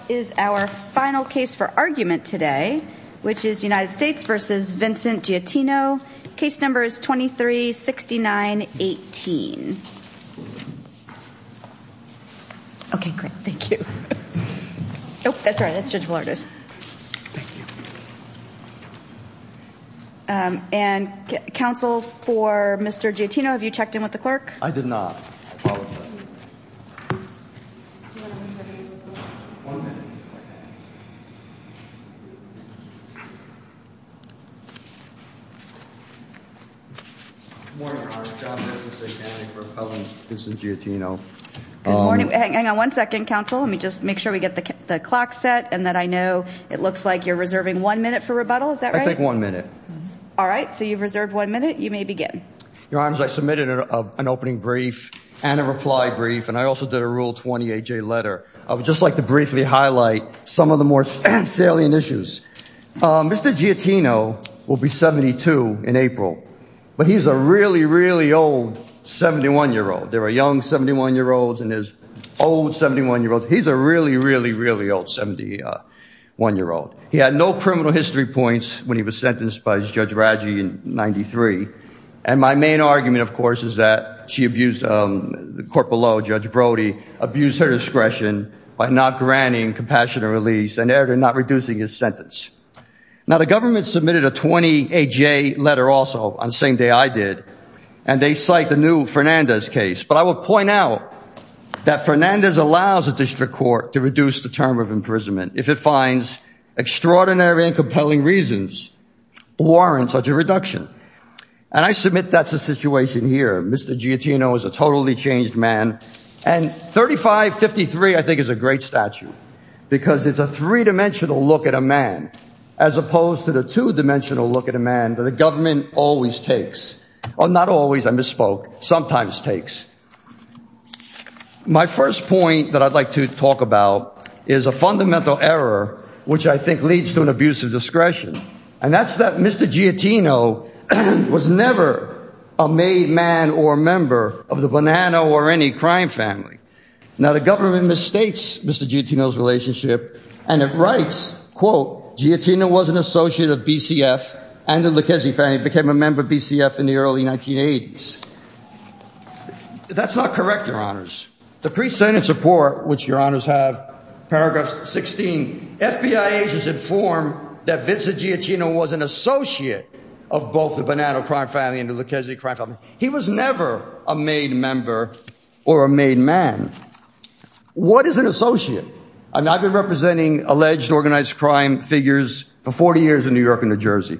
So what is our final case for argument today? Which is United States v. Vincent Giattino. Case number is 2369, 18. Ok great, thank you. Oh, sorry, that's Judge Ballardos. Thank you. And counsel for Mr. Giattino, have you checked in with the clerk? I did not. Good morning, Your Honor. John Ness is standing for appellant, Vincent Giattino. Good morning. Hang on one second, counsel. Let me just make sure we get the clock set and that I know it looks like you're reserving one minute for rebuttal. Is that right? I take one minute. All right, so you've reserved one minute. You may begin. Your Honor, I submitted an opening brief and a reply brief and I also did a Rule 20AJ letter. I would just like to briefly highlight some of the more salient issues. Mr. Giattino will be 72 in April, but he's a really, really old 71-year-old. There are young 71-year-olds and there's old 71-year-olds. He's a really, really, really old 71-year-old. He had no criminal history points when he was sentenced by Judge Raggi in 93. And my main argument, of course, is that she abused the court below, Judge Brody abused her discretion by not granting compassion and release and there they're not reducing his sentence. Now, the government submitted a 20AJ letter also on the same day I did, and they cite the new Fernandez case. But I will point out that Fernandez allows a district court to reduce the term of imprisonment if it finds extraordinary and compelling reasons warrant such a reduction. And I submit that's the situation here. Mr. Giattino is a totally changed man. And 3553, I think, is a great statute because it's a three-dimensional look at a man as opposed to the two-dimensional look at a man that the government always takes. Not always, I misspoke, sometimes takes. My first point that I'd like to talk about is a fundamental error, which I think leads to an abuse of discretion. And that's that Mr. Giattino was never a made man or member of the Bonanno or any crime family. Now, the government mistakes Mr. Giattino's relationship and it writes, quote, Giattino was an associate of BCF and the Lucchesi family, became a member of BCF in the early 1980s. That's not correct, your honors. The pre-sentence report, which your honors have, paragraph 16, FBI agents inform that Mr. Giattino was an associate of both the Bonanno crime family and the Lucchesi crime family. He was never a made member or a made man. What is an associate? And I've been representing alleged organized crime figures for 40 years in New York and New Jersey.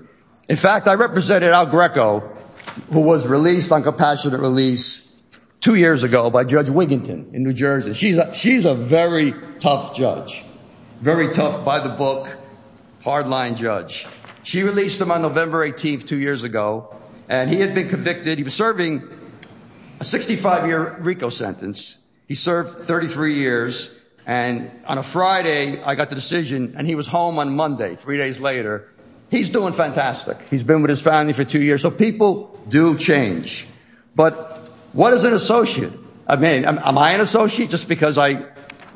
In fact, I represented Al Greco, who was released on compassionate release two years ago by Judge Wiginton in New Jersey. She's a very tough judge. Very tough by the book, hardline judge. She released him on November 18th, two years ago, and he had been convicted. He was serving a 65 year RICO sentence. He served 33 years. And on a Friday, I got the decision and he was home on Monday, three days later. He's doing fantastic. He's been with his family for two years. So people do change. But what is an associate? I mean, am I an associate just because I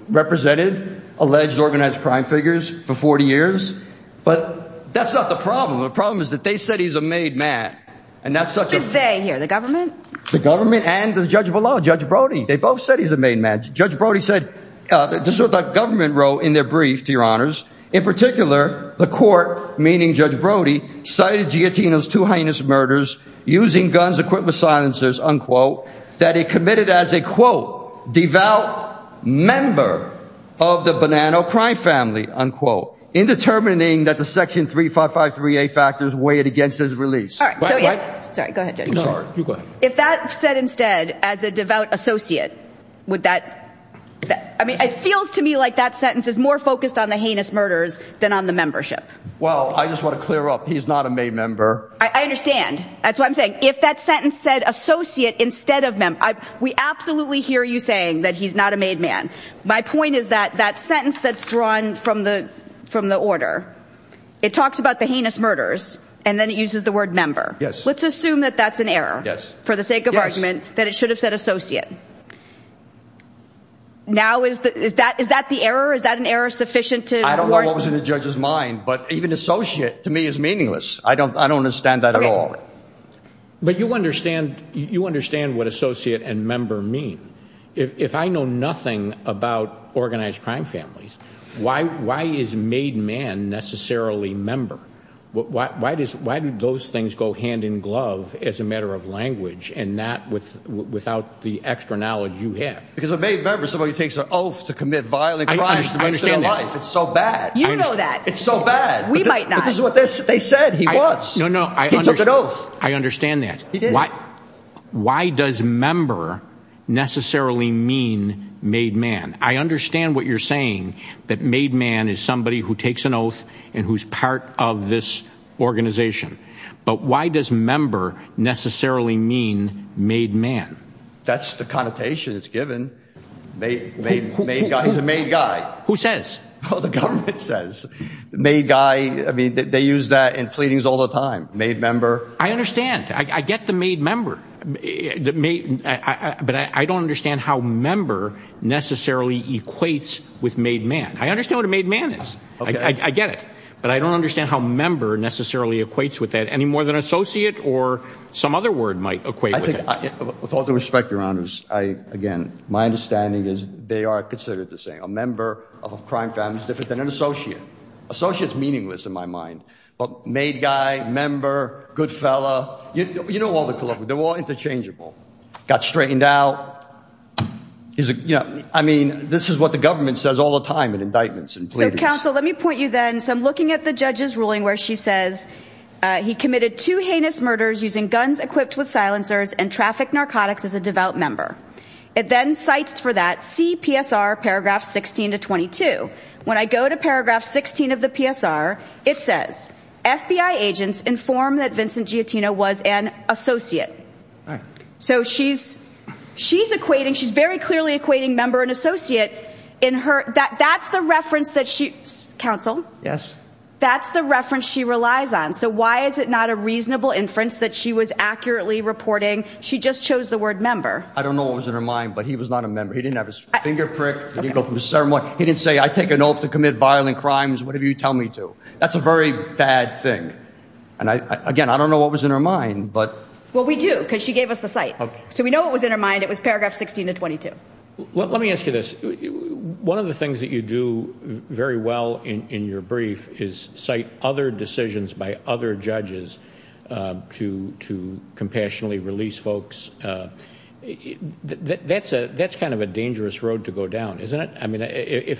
represented alleged organized crime figures for 40 years? But that's not the problem. The problem is that they said he's a made man. And that's such a- Who's they here? The government? The government and the judge below, Judge Brody. They both said he's a made man. Judge Brody said, the government wrote in their brief, to your honors, in particular, the court, meaning Judge Brody, cited Giattino's two heinous murders using guns, equipment, and murder silencers, unquote, that he committed as a, quote, devout member of the Bonanno crime family, unquote, in determining that the section 3553A factors weighed against his release. All right. Sorry. Go ahead, Judge. I'm sorry. You go ahead. If that said instead, as a devout associate, would that- I mean, it feels to me like that sentence is more focused on the heinous murders than on the membership. Well, I just want to clear up, he's not a made member. I understand. That's what I'm saying. If that sentence said associate instead of member, we absolutely hear you saying that he's not a made man. My point is that that sentence that's drawn from the order, it talks about the heinous murders and then it uses the word member. Yes. Let's assume that that's an error. Yes. Yes. For the sake of argument, that it should have said associate. Now is that the error? Is that an error sufficient to- I don't know what was in the judge's mind, but even associate, to me, is meaningless. I don't understand that at all. But you understand what associate and member mean. If I know nothing about organized crime families, why is made man necessarily member? Why do those things go hand in glove as a matter of language and not without the extra knowledge you have? Because a made member is somebody who takes an oath to commit violent crimes to the rest of their life. I understand that. It's so bad. You know that. It's so bad. We might not. But this is what they said. He was. No, no. He took an oath. I understand that. Why does member necessarily mean made man? I understand what you're saying, that made man is somebody who takes an oath and who's part of this organization. But why does member necessarily mean made man? That's the connotation that's given. Made guy is a made guy. Who says? Well, the government says. The made guy. I mean, they use that in pleadings all the time. Made member. I understand. I get the made member, but I don't understand how member necessarily equates with made man. I understand what a made man is. I get it. But I don't understand how member necessarily equates with that any more than associate or some other word might equate with it. With all due respect, your honors, I, again, my understanding is they are considered the same thing. A member of a crime family is different than an associate. Associates meaningless in my mind. But made guy, member, good fella, you know, all the club, they're all interchangeable. Got straightened out is, you know, I mean, this is what the government says all the time in indictments and pleadings. So counsel, let me point you then. So I'm looking at the judge's ruling where she says he committed two heinous murders using guns equipped with silencers and traffic narcotics as a devout member. It then cites for that CPSR paragraph 16 to 22. When I go to paragraph 16 of the PSR, it says FBI agents inform that Vincent Giottino was an associate. So she's she's equating. She's very clearly equating member and associate in her. That's the reference that she counsel. Yes. That's the reference she relies on. So why is it not a reasonable inference that she was accurately reporting? She just chose the word member. I don't know what was in her mind, but he was not a member. He didn't have his finger pricked from the ceremony. He didn't say, I take an oath to commit violent crimes, whatever you tell me to. That's a very bad thing. And again, I don't know what was in her mind, but what we do because she gave us the site. So we know it was in her mind. It was paragraph 16 to 22. Let me ask you this. One of the things that you do very well in your brief is cite other decisions by other judges to compassionately release folks. That's kind of a dangerous road to go down, isn't it?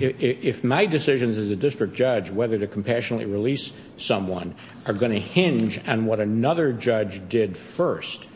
If my decisions as a district judge, whether to compassionately release someone, are going to hinge on what another judge did first,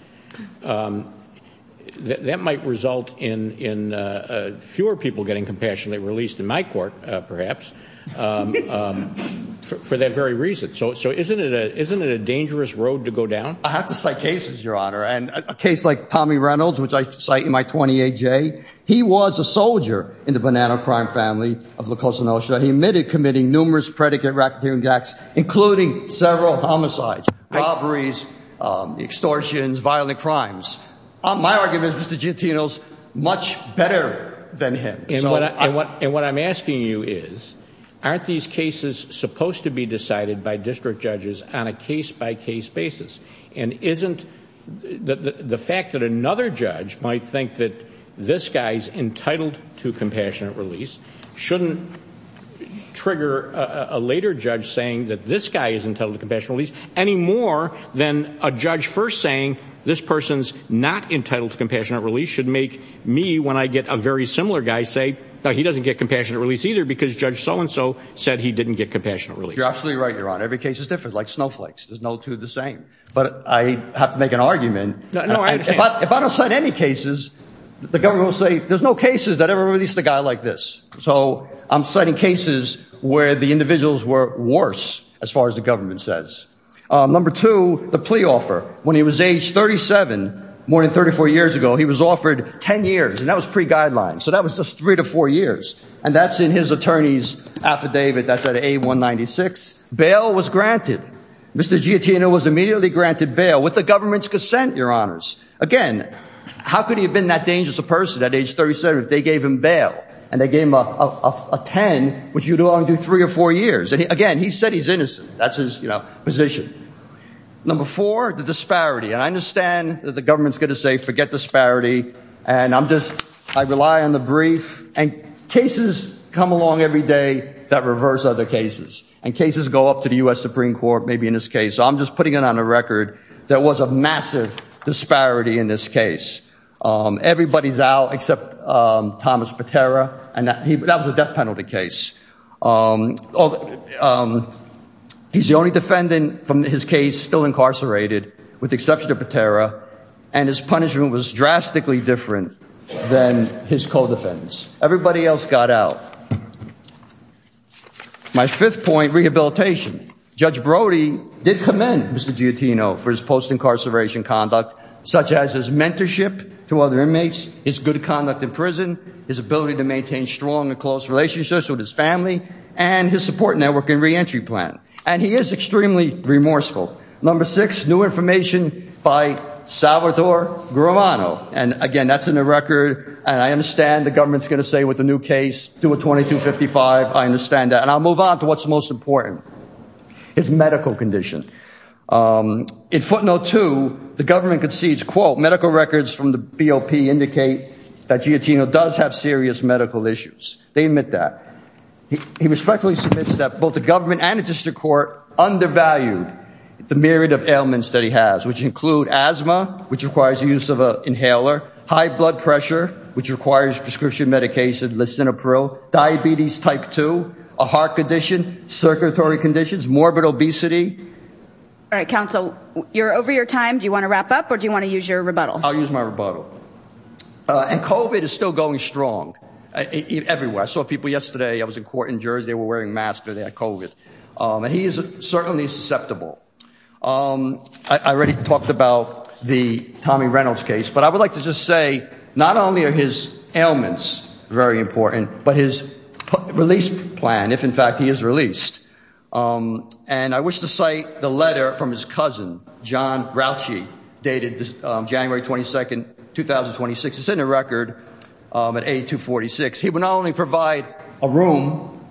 that might result in fewer people getting compassionately released in my court, perhaps, for that very reason. So isn't it a dangerous road to go down? I have to cite cases, Your Honor, and a case like Tommy Reynolds, which I cite in my 28J. He was a soldier in the banana crime family of La Cosa Nostra. He admitted committing numerous predicate racketeering acts, including several homicides, robberies, extortions, violent crimes. My argument is, Mr. Gentile's much better than him. And what I'm asking you is, aren't these cases supposed to be decided by district judges on a case-by-case basis, and isn't the fact that another judge might think that this guy's entitled to compassionate release shouldn't trigger a later judge saying that this guy is entitled to compassionate release any more than a judge first saying this person's not entitled to compassionate release should make me, when I get a very similar guy, say, no, he doesn't get compassionate release either because Judge so-and-so said he didn't get compassionate release. You're absolutely right, Your Honor. Every case is different, like snowflakes. There's no two of the same. But I have to make an argument. No, I understand. If I don't cite any cases, the government will say, there's no cases that ever released a guy like this. So I'm citing cases where the individuals were worse, as far as the government says. Number two, the plea offer. When he was age 37, more than 34 years ago, he was offered 10 years, and that was pre-guideline. So that was just three to four years. And that's in his attorney's affidavit that's at A-196. Bail was granted. Mr. Giottino was immediately granted bail with the government's consent, Your Honors. Again, how could he have been that dangerous a person at age 37 if they gave him bail and they gave him a 10, which you'd only do three or four years? And again, he said he's innocent. That's his position. Number four, the disparity. And I understand that the government's going to say, forget disparity. And I'm just, I rely on the brief. And cases come along every day that reverse other cases. And cases go up to the US Supreme Court, maybe in this case. So I'm just putting it on a record. There was a massive disparity in this case. Everybody's out except Thomas Patera, and that was a death penalty case. He's the only defendant from his case still incarcerated, with the exception of Patera. And his punishment was drastically different than his co-defendants. Everybody else got out. My fifth point, rehabilitation. Judge Brody did commend Mr. Giottino for his post-incarceration conduct, such as his mentorship to other inmates, his good conduct in prison, his ability to maintain strong and close relationships with his family, and his support network and reentry plan. And he is extremely remorseful. Number six, new information by Salvatore Grimano. And again, that's in the record. And I understand the government's going to say, with a new case, do a 2255. I understand that. And I'll move on to what's most important, his medical condition. In footnote two, the government concedes, quote, medical records from the BOP indicate that Giottino does have serious medical issues. They admit that. He respectfully submits that both the government and the district court undervalued the myriad of ailments that he has, which include asthma, which requires the use of an inhaler, high blood pressure, which requires prescription medication, lisinopril, diabetes type two, a heart condition, circulatory conditions, morbid obesity. All right, counsel, you're over your time. Do you want to wrap up or do you want to use your rebuttal? I'll use my rebuttal. And COVID is still going strong everywhere. I saw people yesterday, I was in court in Jersey, they were wearing masks, they had COVID. And he is certainly susceptible. I already talked about the Tommy Reynolds case, but I would like to just say, not only are his ailments very important, but his release plan, if in fact he is released. And I wish to cite the letter from his cousin, John Rauchy, dated January 22nd, 2026. It's in the record at 8246. He would not only provide a room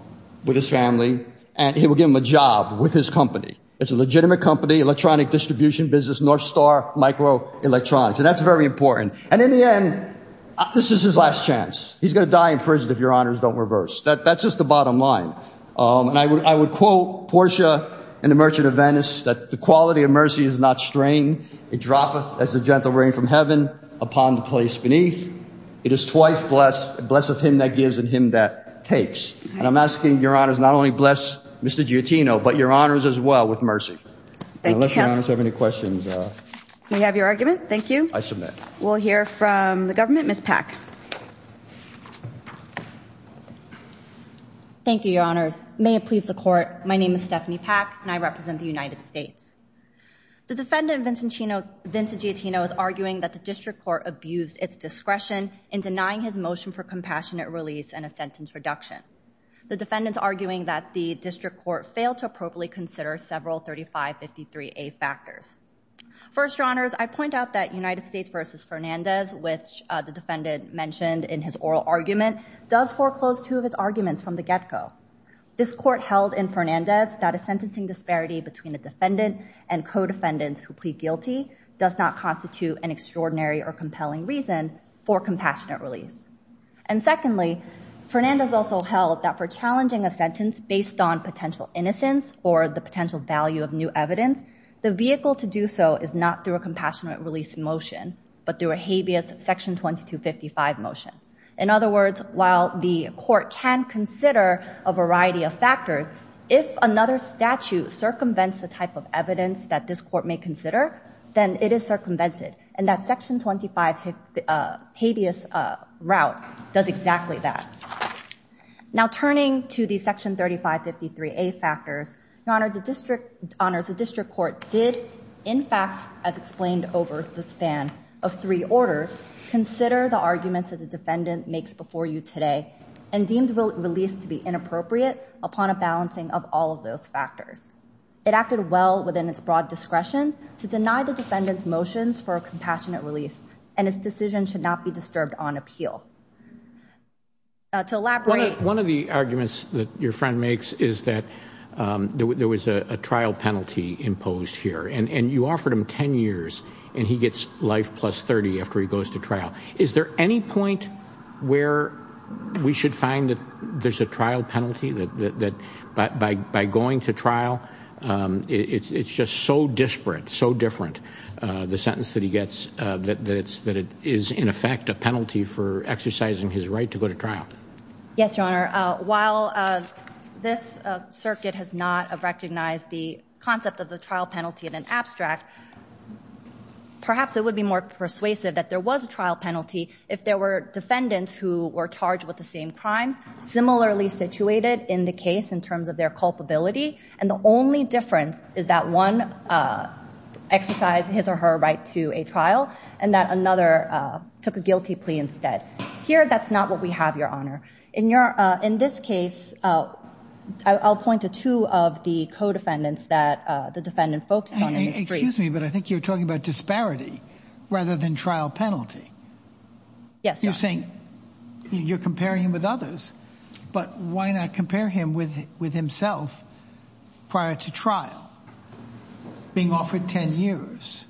with his family, and he would give him a job with his company. It's a legitimate company, electronic distribution business, Northstar Microelectronics. And that's very important. And in the end, this is his last chance. He's going to die in prison if your honors don't reverse. That's just the bottom line. And I would quote Portia in The Merchant of Venice, that the quality of mercy is not strain. It droppeth as the gentle rain from heaven upon the place beneath. It is twice blessed, blessed him that gives and him that takes. And I'm asking your honors not only bless Mr. Giottino, but your honors as well with mercy. Unless your honors have any questions. We have your argument. Thank you. I submit. We'll hear from the government, Ms. Pack. Thank you, your honors. May it please the court. My name is Stephanie Pack, and I represent the United States. The defendant Vincent Giottino is arguing that the district court abused its discretion in denying his motion for compassionate release and a sentence reduction. The defendant's arguing that the district court failed to appropriately consider several 3553A factors. First, your honors, I point out that United States versus Fernandez, which the defendant mentioned in his oral argument, does foreclose two of his arguments from the get-go. This court held in Fernandez that a sentencing disparity between a defendant and co-defendants who plead guilty does not constitute an extraordinary or compelling reason for compassionate release. And secondly, Fernandez also held that for challenging a sentence based on potential innocence or the potential value of new evidence, the vehicle to do so is not through a compassionate release motion, but through a habeas section 2255 motion. In other words, while the court can consider a variety of factors, if another statute circumvents the type of evidence that this court may consider, then it is circumvented, and that section 25 habeas route does exactly that. Now, turning to the section 3553A factors, your honors, the district court did, in fact, as explained over the span of three orders, consider the arguments that the defendant makes before you today and deemed release to be inappropriate upon a balancing of all of those factors. It acted well within its broad discretion to deny the defendant's motions for a compassionate release, and its decision should not be disturbed on appeal. To elaborate. One of the arguments that your friend makes is that there was a trial penalty imposed here, and you offered him 10 years, and he gets life plus 30 after he goes to trial. Is there any point where we should find that there's a trial penalty, that by going to trial, it's just so disparate, so different, the sentence that he gets, that it is, in effect, a penalty for exercising his right to go to trial? Yes, your honor, while this circuit has not recognized the concept of the trial penalty in an abstract, perhaps it would be more persuasive that there was a trial penalty if there were defendants who were charged with the same crimes similarly situated in the case in terms of their culpability, and the only difference is that one exercised his or her right to a trial, and that another took a guilty plea instead. Here, that's not what we have, your honor. In this case, I'll point to two of the co-defendants that the defendant focused on in this brief. Excuse me, but I think you're talking about disparity rather than trial penalty. Yes, your honor. You're comparing him with others, but why not compare him with himself prior to trial, being offered 10 years?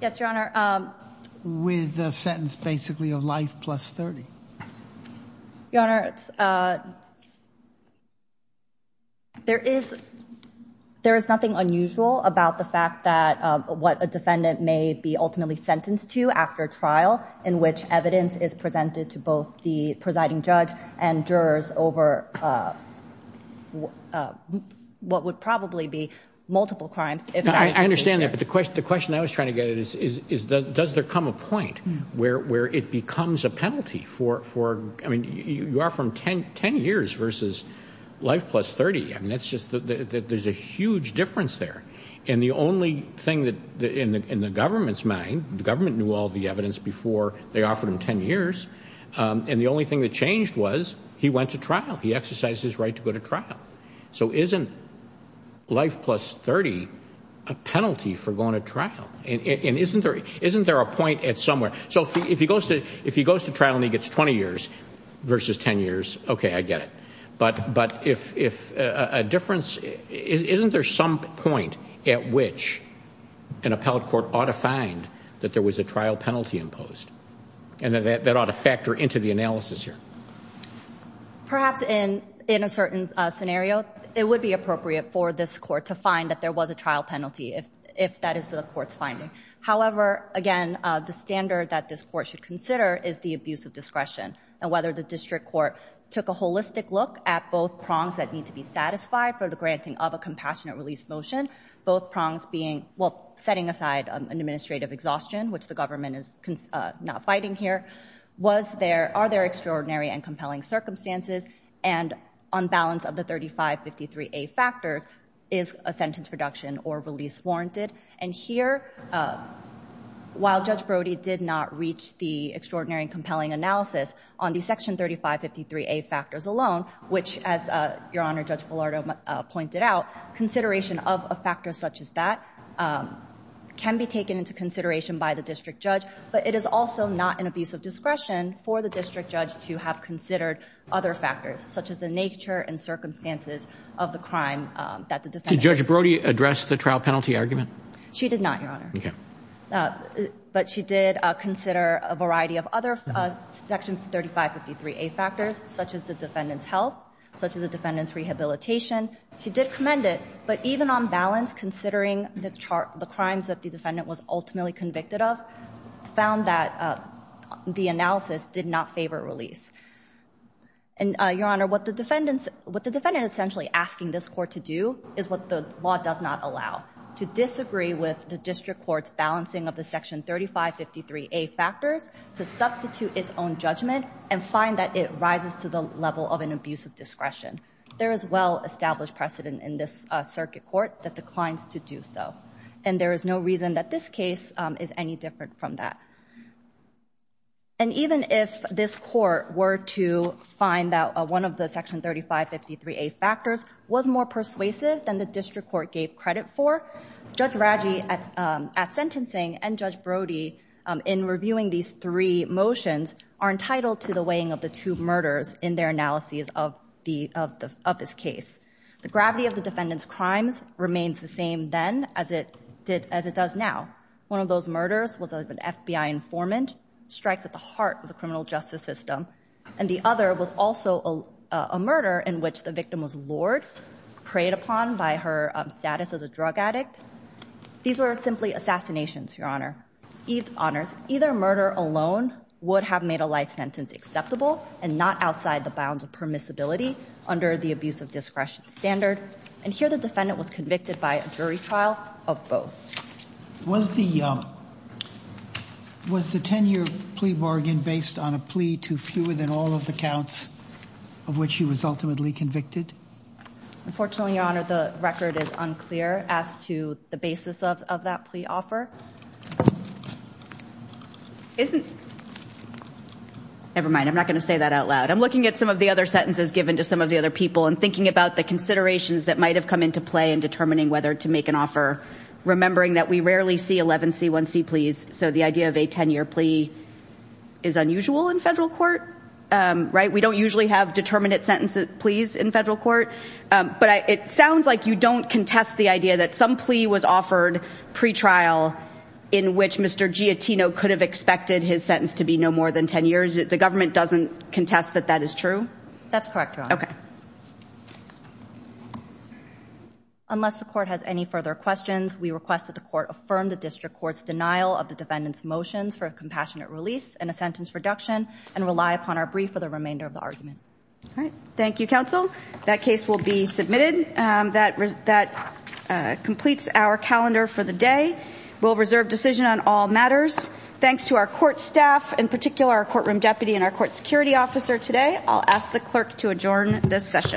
Yes, your honor. With a sentence, basically, of life plus 30. Your honor, there is nothing unusual about the fact that what a defendant may be ultimately sentenced to after trial in which evidence is presented to both the presiding judge and jurors over what would probably be multiple crimes. I understand that, but the question I was trying to get at is does there come a point where it becomes a penalty for, I mean, you are from 10 years versus life plus 30, and that's just, there's a huge difference there. And the only thing in the government's mind, the government knew all the evidence before they offered him 10 years, and the only thing that changed was he went to trial. He exercised his right to go to trial. So isn't life plus 30 a penalty for going to trial? And isn't there a point at somewhere? So if he goes to trial and he gets 20 years versus 10 years, okay, I get it. But if a difference, isn't there some point at which an appellate court ought to find that there was a trial penalty imposed, and that that ought to factor into the analysis here? Perhaps in a certain scenario, it would be appropriate for this court to find that there was a trial penalty if that is the court's finding. However, again, the standard that this court should consider is the abuse of discretion and whether the district court took a holistic look at both prongs that need to be satisfied for the granting of a compassionate release motion, both prongs being, well, setting aside an administrative exhaustion, which the government is not fighting here. Was there, are there extraordinary and compelling circumstances? And on balance of the 3553A factors, is a sentence reduction or release warranted? And here, while Judge Brody did not reach the extraordinary and compelling analysis on the section 3553A factors alone, which as Your Honor, Judge Pallardo pointed out, consideration of a factor such as that can be taken into consideration by the district judge, but it is also not an abuse of discretion for the district judge to have considered other factors, such as the nature and circumstances of the crime that the defendant. Did Judge Brody address the trial penalty argument? She did not, Your Honor. Okay. But she did consider a variety of other section 3553A factors, such as the defendant's health, such as the defendant's rehabilitation. She did commend it, but even on balance, considering the crimes that the defendant was ultimately convicted of, found that the analysis did not favor release. And Your Honor, what the defendant essentially asking this court to do is what the law does not allow, to disagree with the district court's balancing of the section 3553A factors to substitute its own judgment and find that it rises to the level of an abuse of discretion. There is well-established precedent in this circuit court that declines to do so, and there is no reason that this case is any different from that. And even if this court were to find that one of the section 3553A factors was more persuasive than the district court gave credit for, Judge Raggi at sentencing and Judge Brody in reviewing these three motions are entitled to the weighing of the two murders in their analyses of this case. The gravity of the defendant's crimes remains the same then as it does now. One of those murders was of an FBI informant, strikes at the heart of the criminal justice system. And the other was also a murder in which the victim was lured, preyed upon by her status as a drug addict. These were simply assassinations, Your Honor. Eith honors, either murder alone would have made a life sentence acceptable and not outside the bounds of permissibility under the abuse of discretion standard. And here the defendant was convicted by a jury trial of both. Was the 10-year plea bargain based on a plea to fewer than all of the counts of which she was ultimately convicted? Unfortunately, Your Honor, the record is unclear as to the basis of that plea offer. Never mind, I'm not going to say that out loud. I'm looking at some of the other sentences given to some of the other people and thinking about the considerations that might have come into play in determining whether to make an offer, remembering that we rarely see 11C1C pleas. So the idea of a 10-year plea is unusual in federal court, right? We don't usually have determinate sentences pleas in federal court. But it sounds like you don't contest the idea that some plea was offered pre-trial in which Mr. Giottino could have expected his sentence to be no more than 10 years. The government doesn't contest that that is true? That's correct, Your Honor. Okay. Unless the court has any further questions, we request that the court affirm the district court's denial of the defendant's motions for a compassionate release and a sentence reduction and rely upon our brief for the remainder of the argument. All right. Thank you, counsel. That case will be submitted. That completes our calendar for the day. We'll reserve decision on all matters. Thanks to our court staff, in particular our courtroom deputy and our court security officer today. I'll ask the clerk to adjourn this session.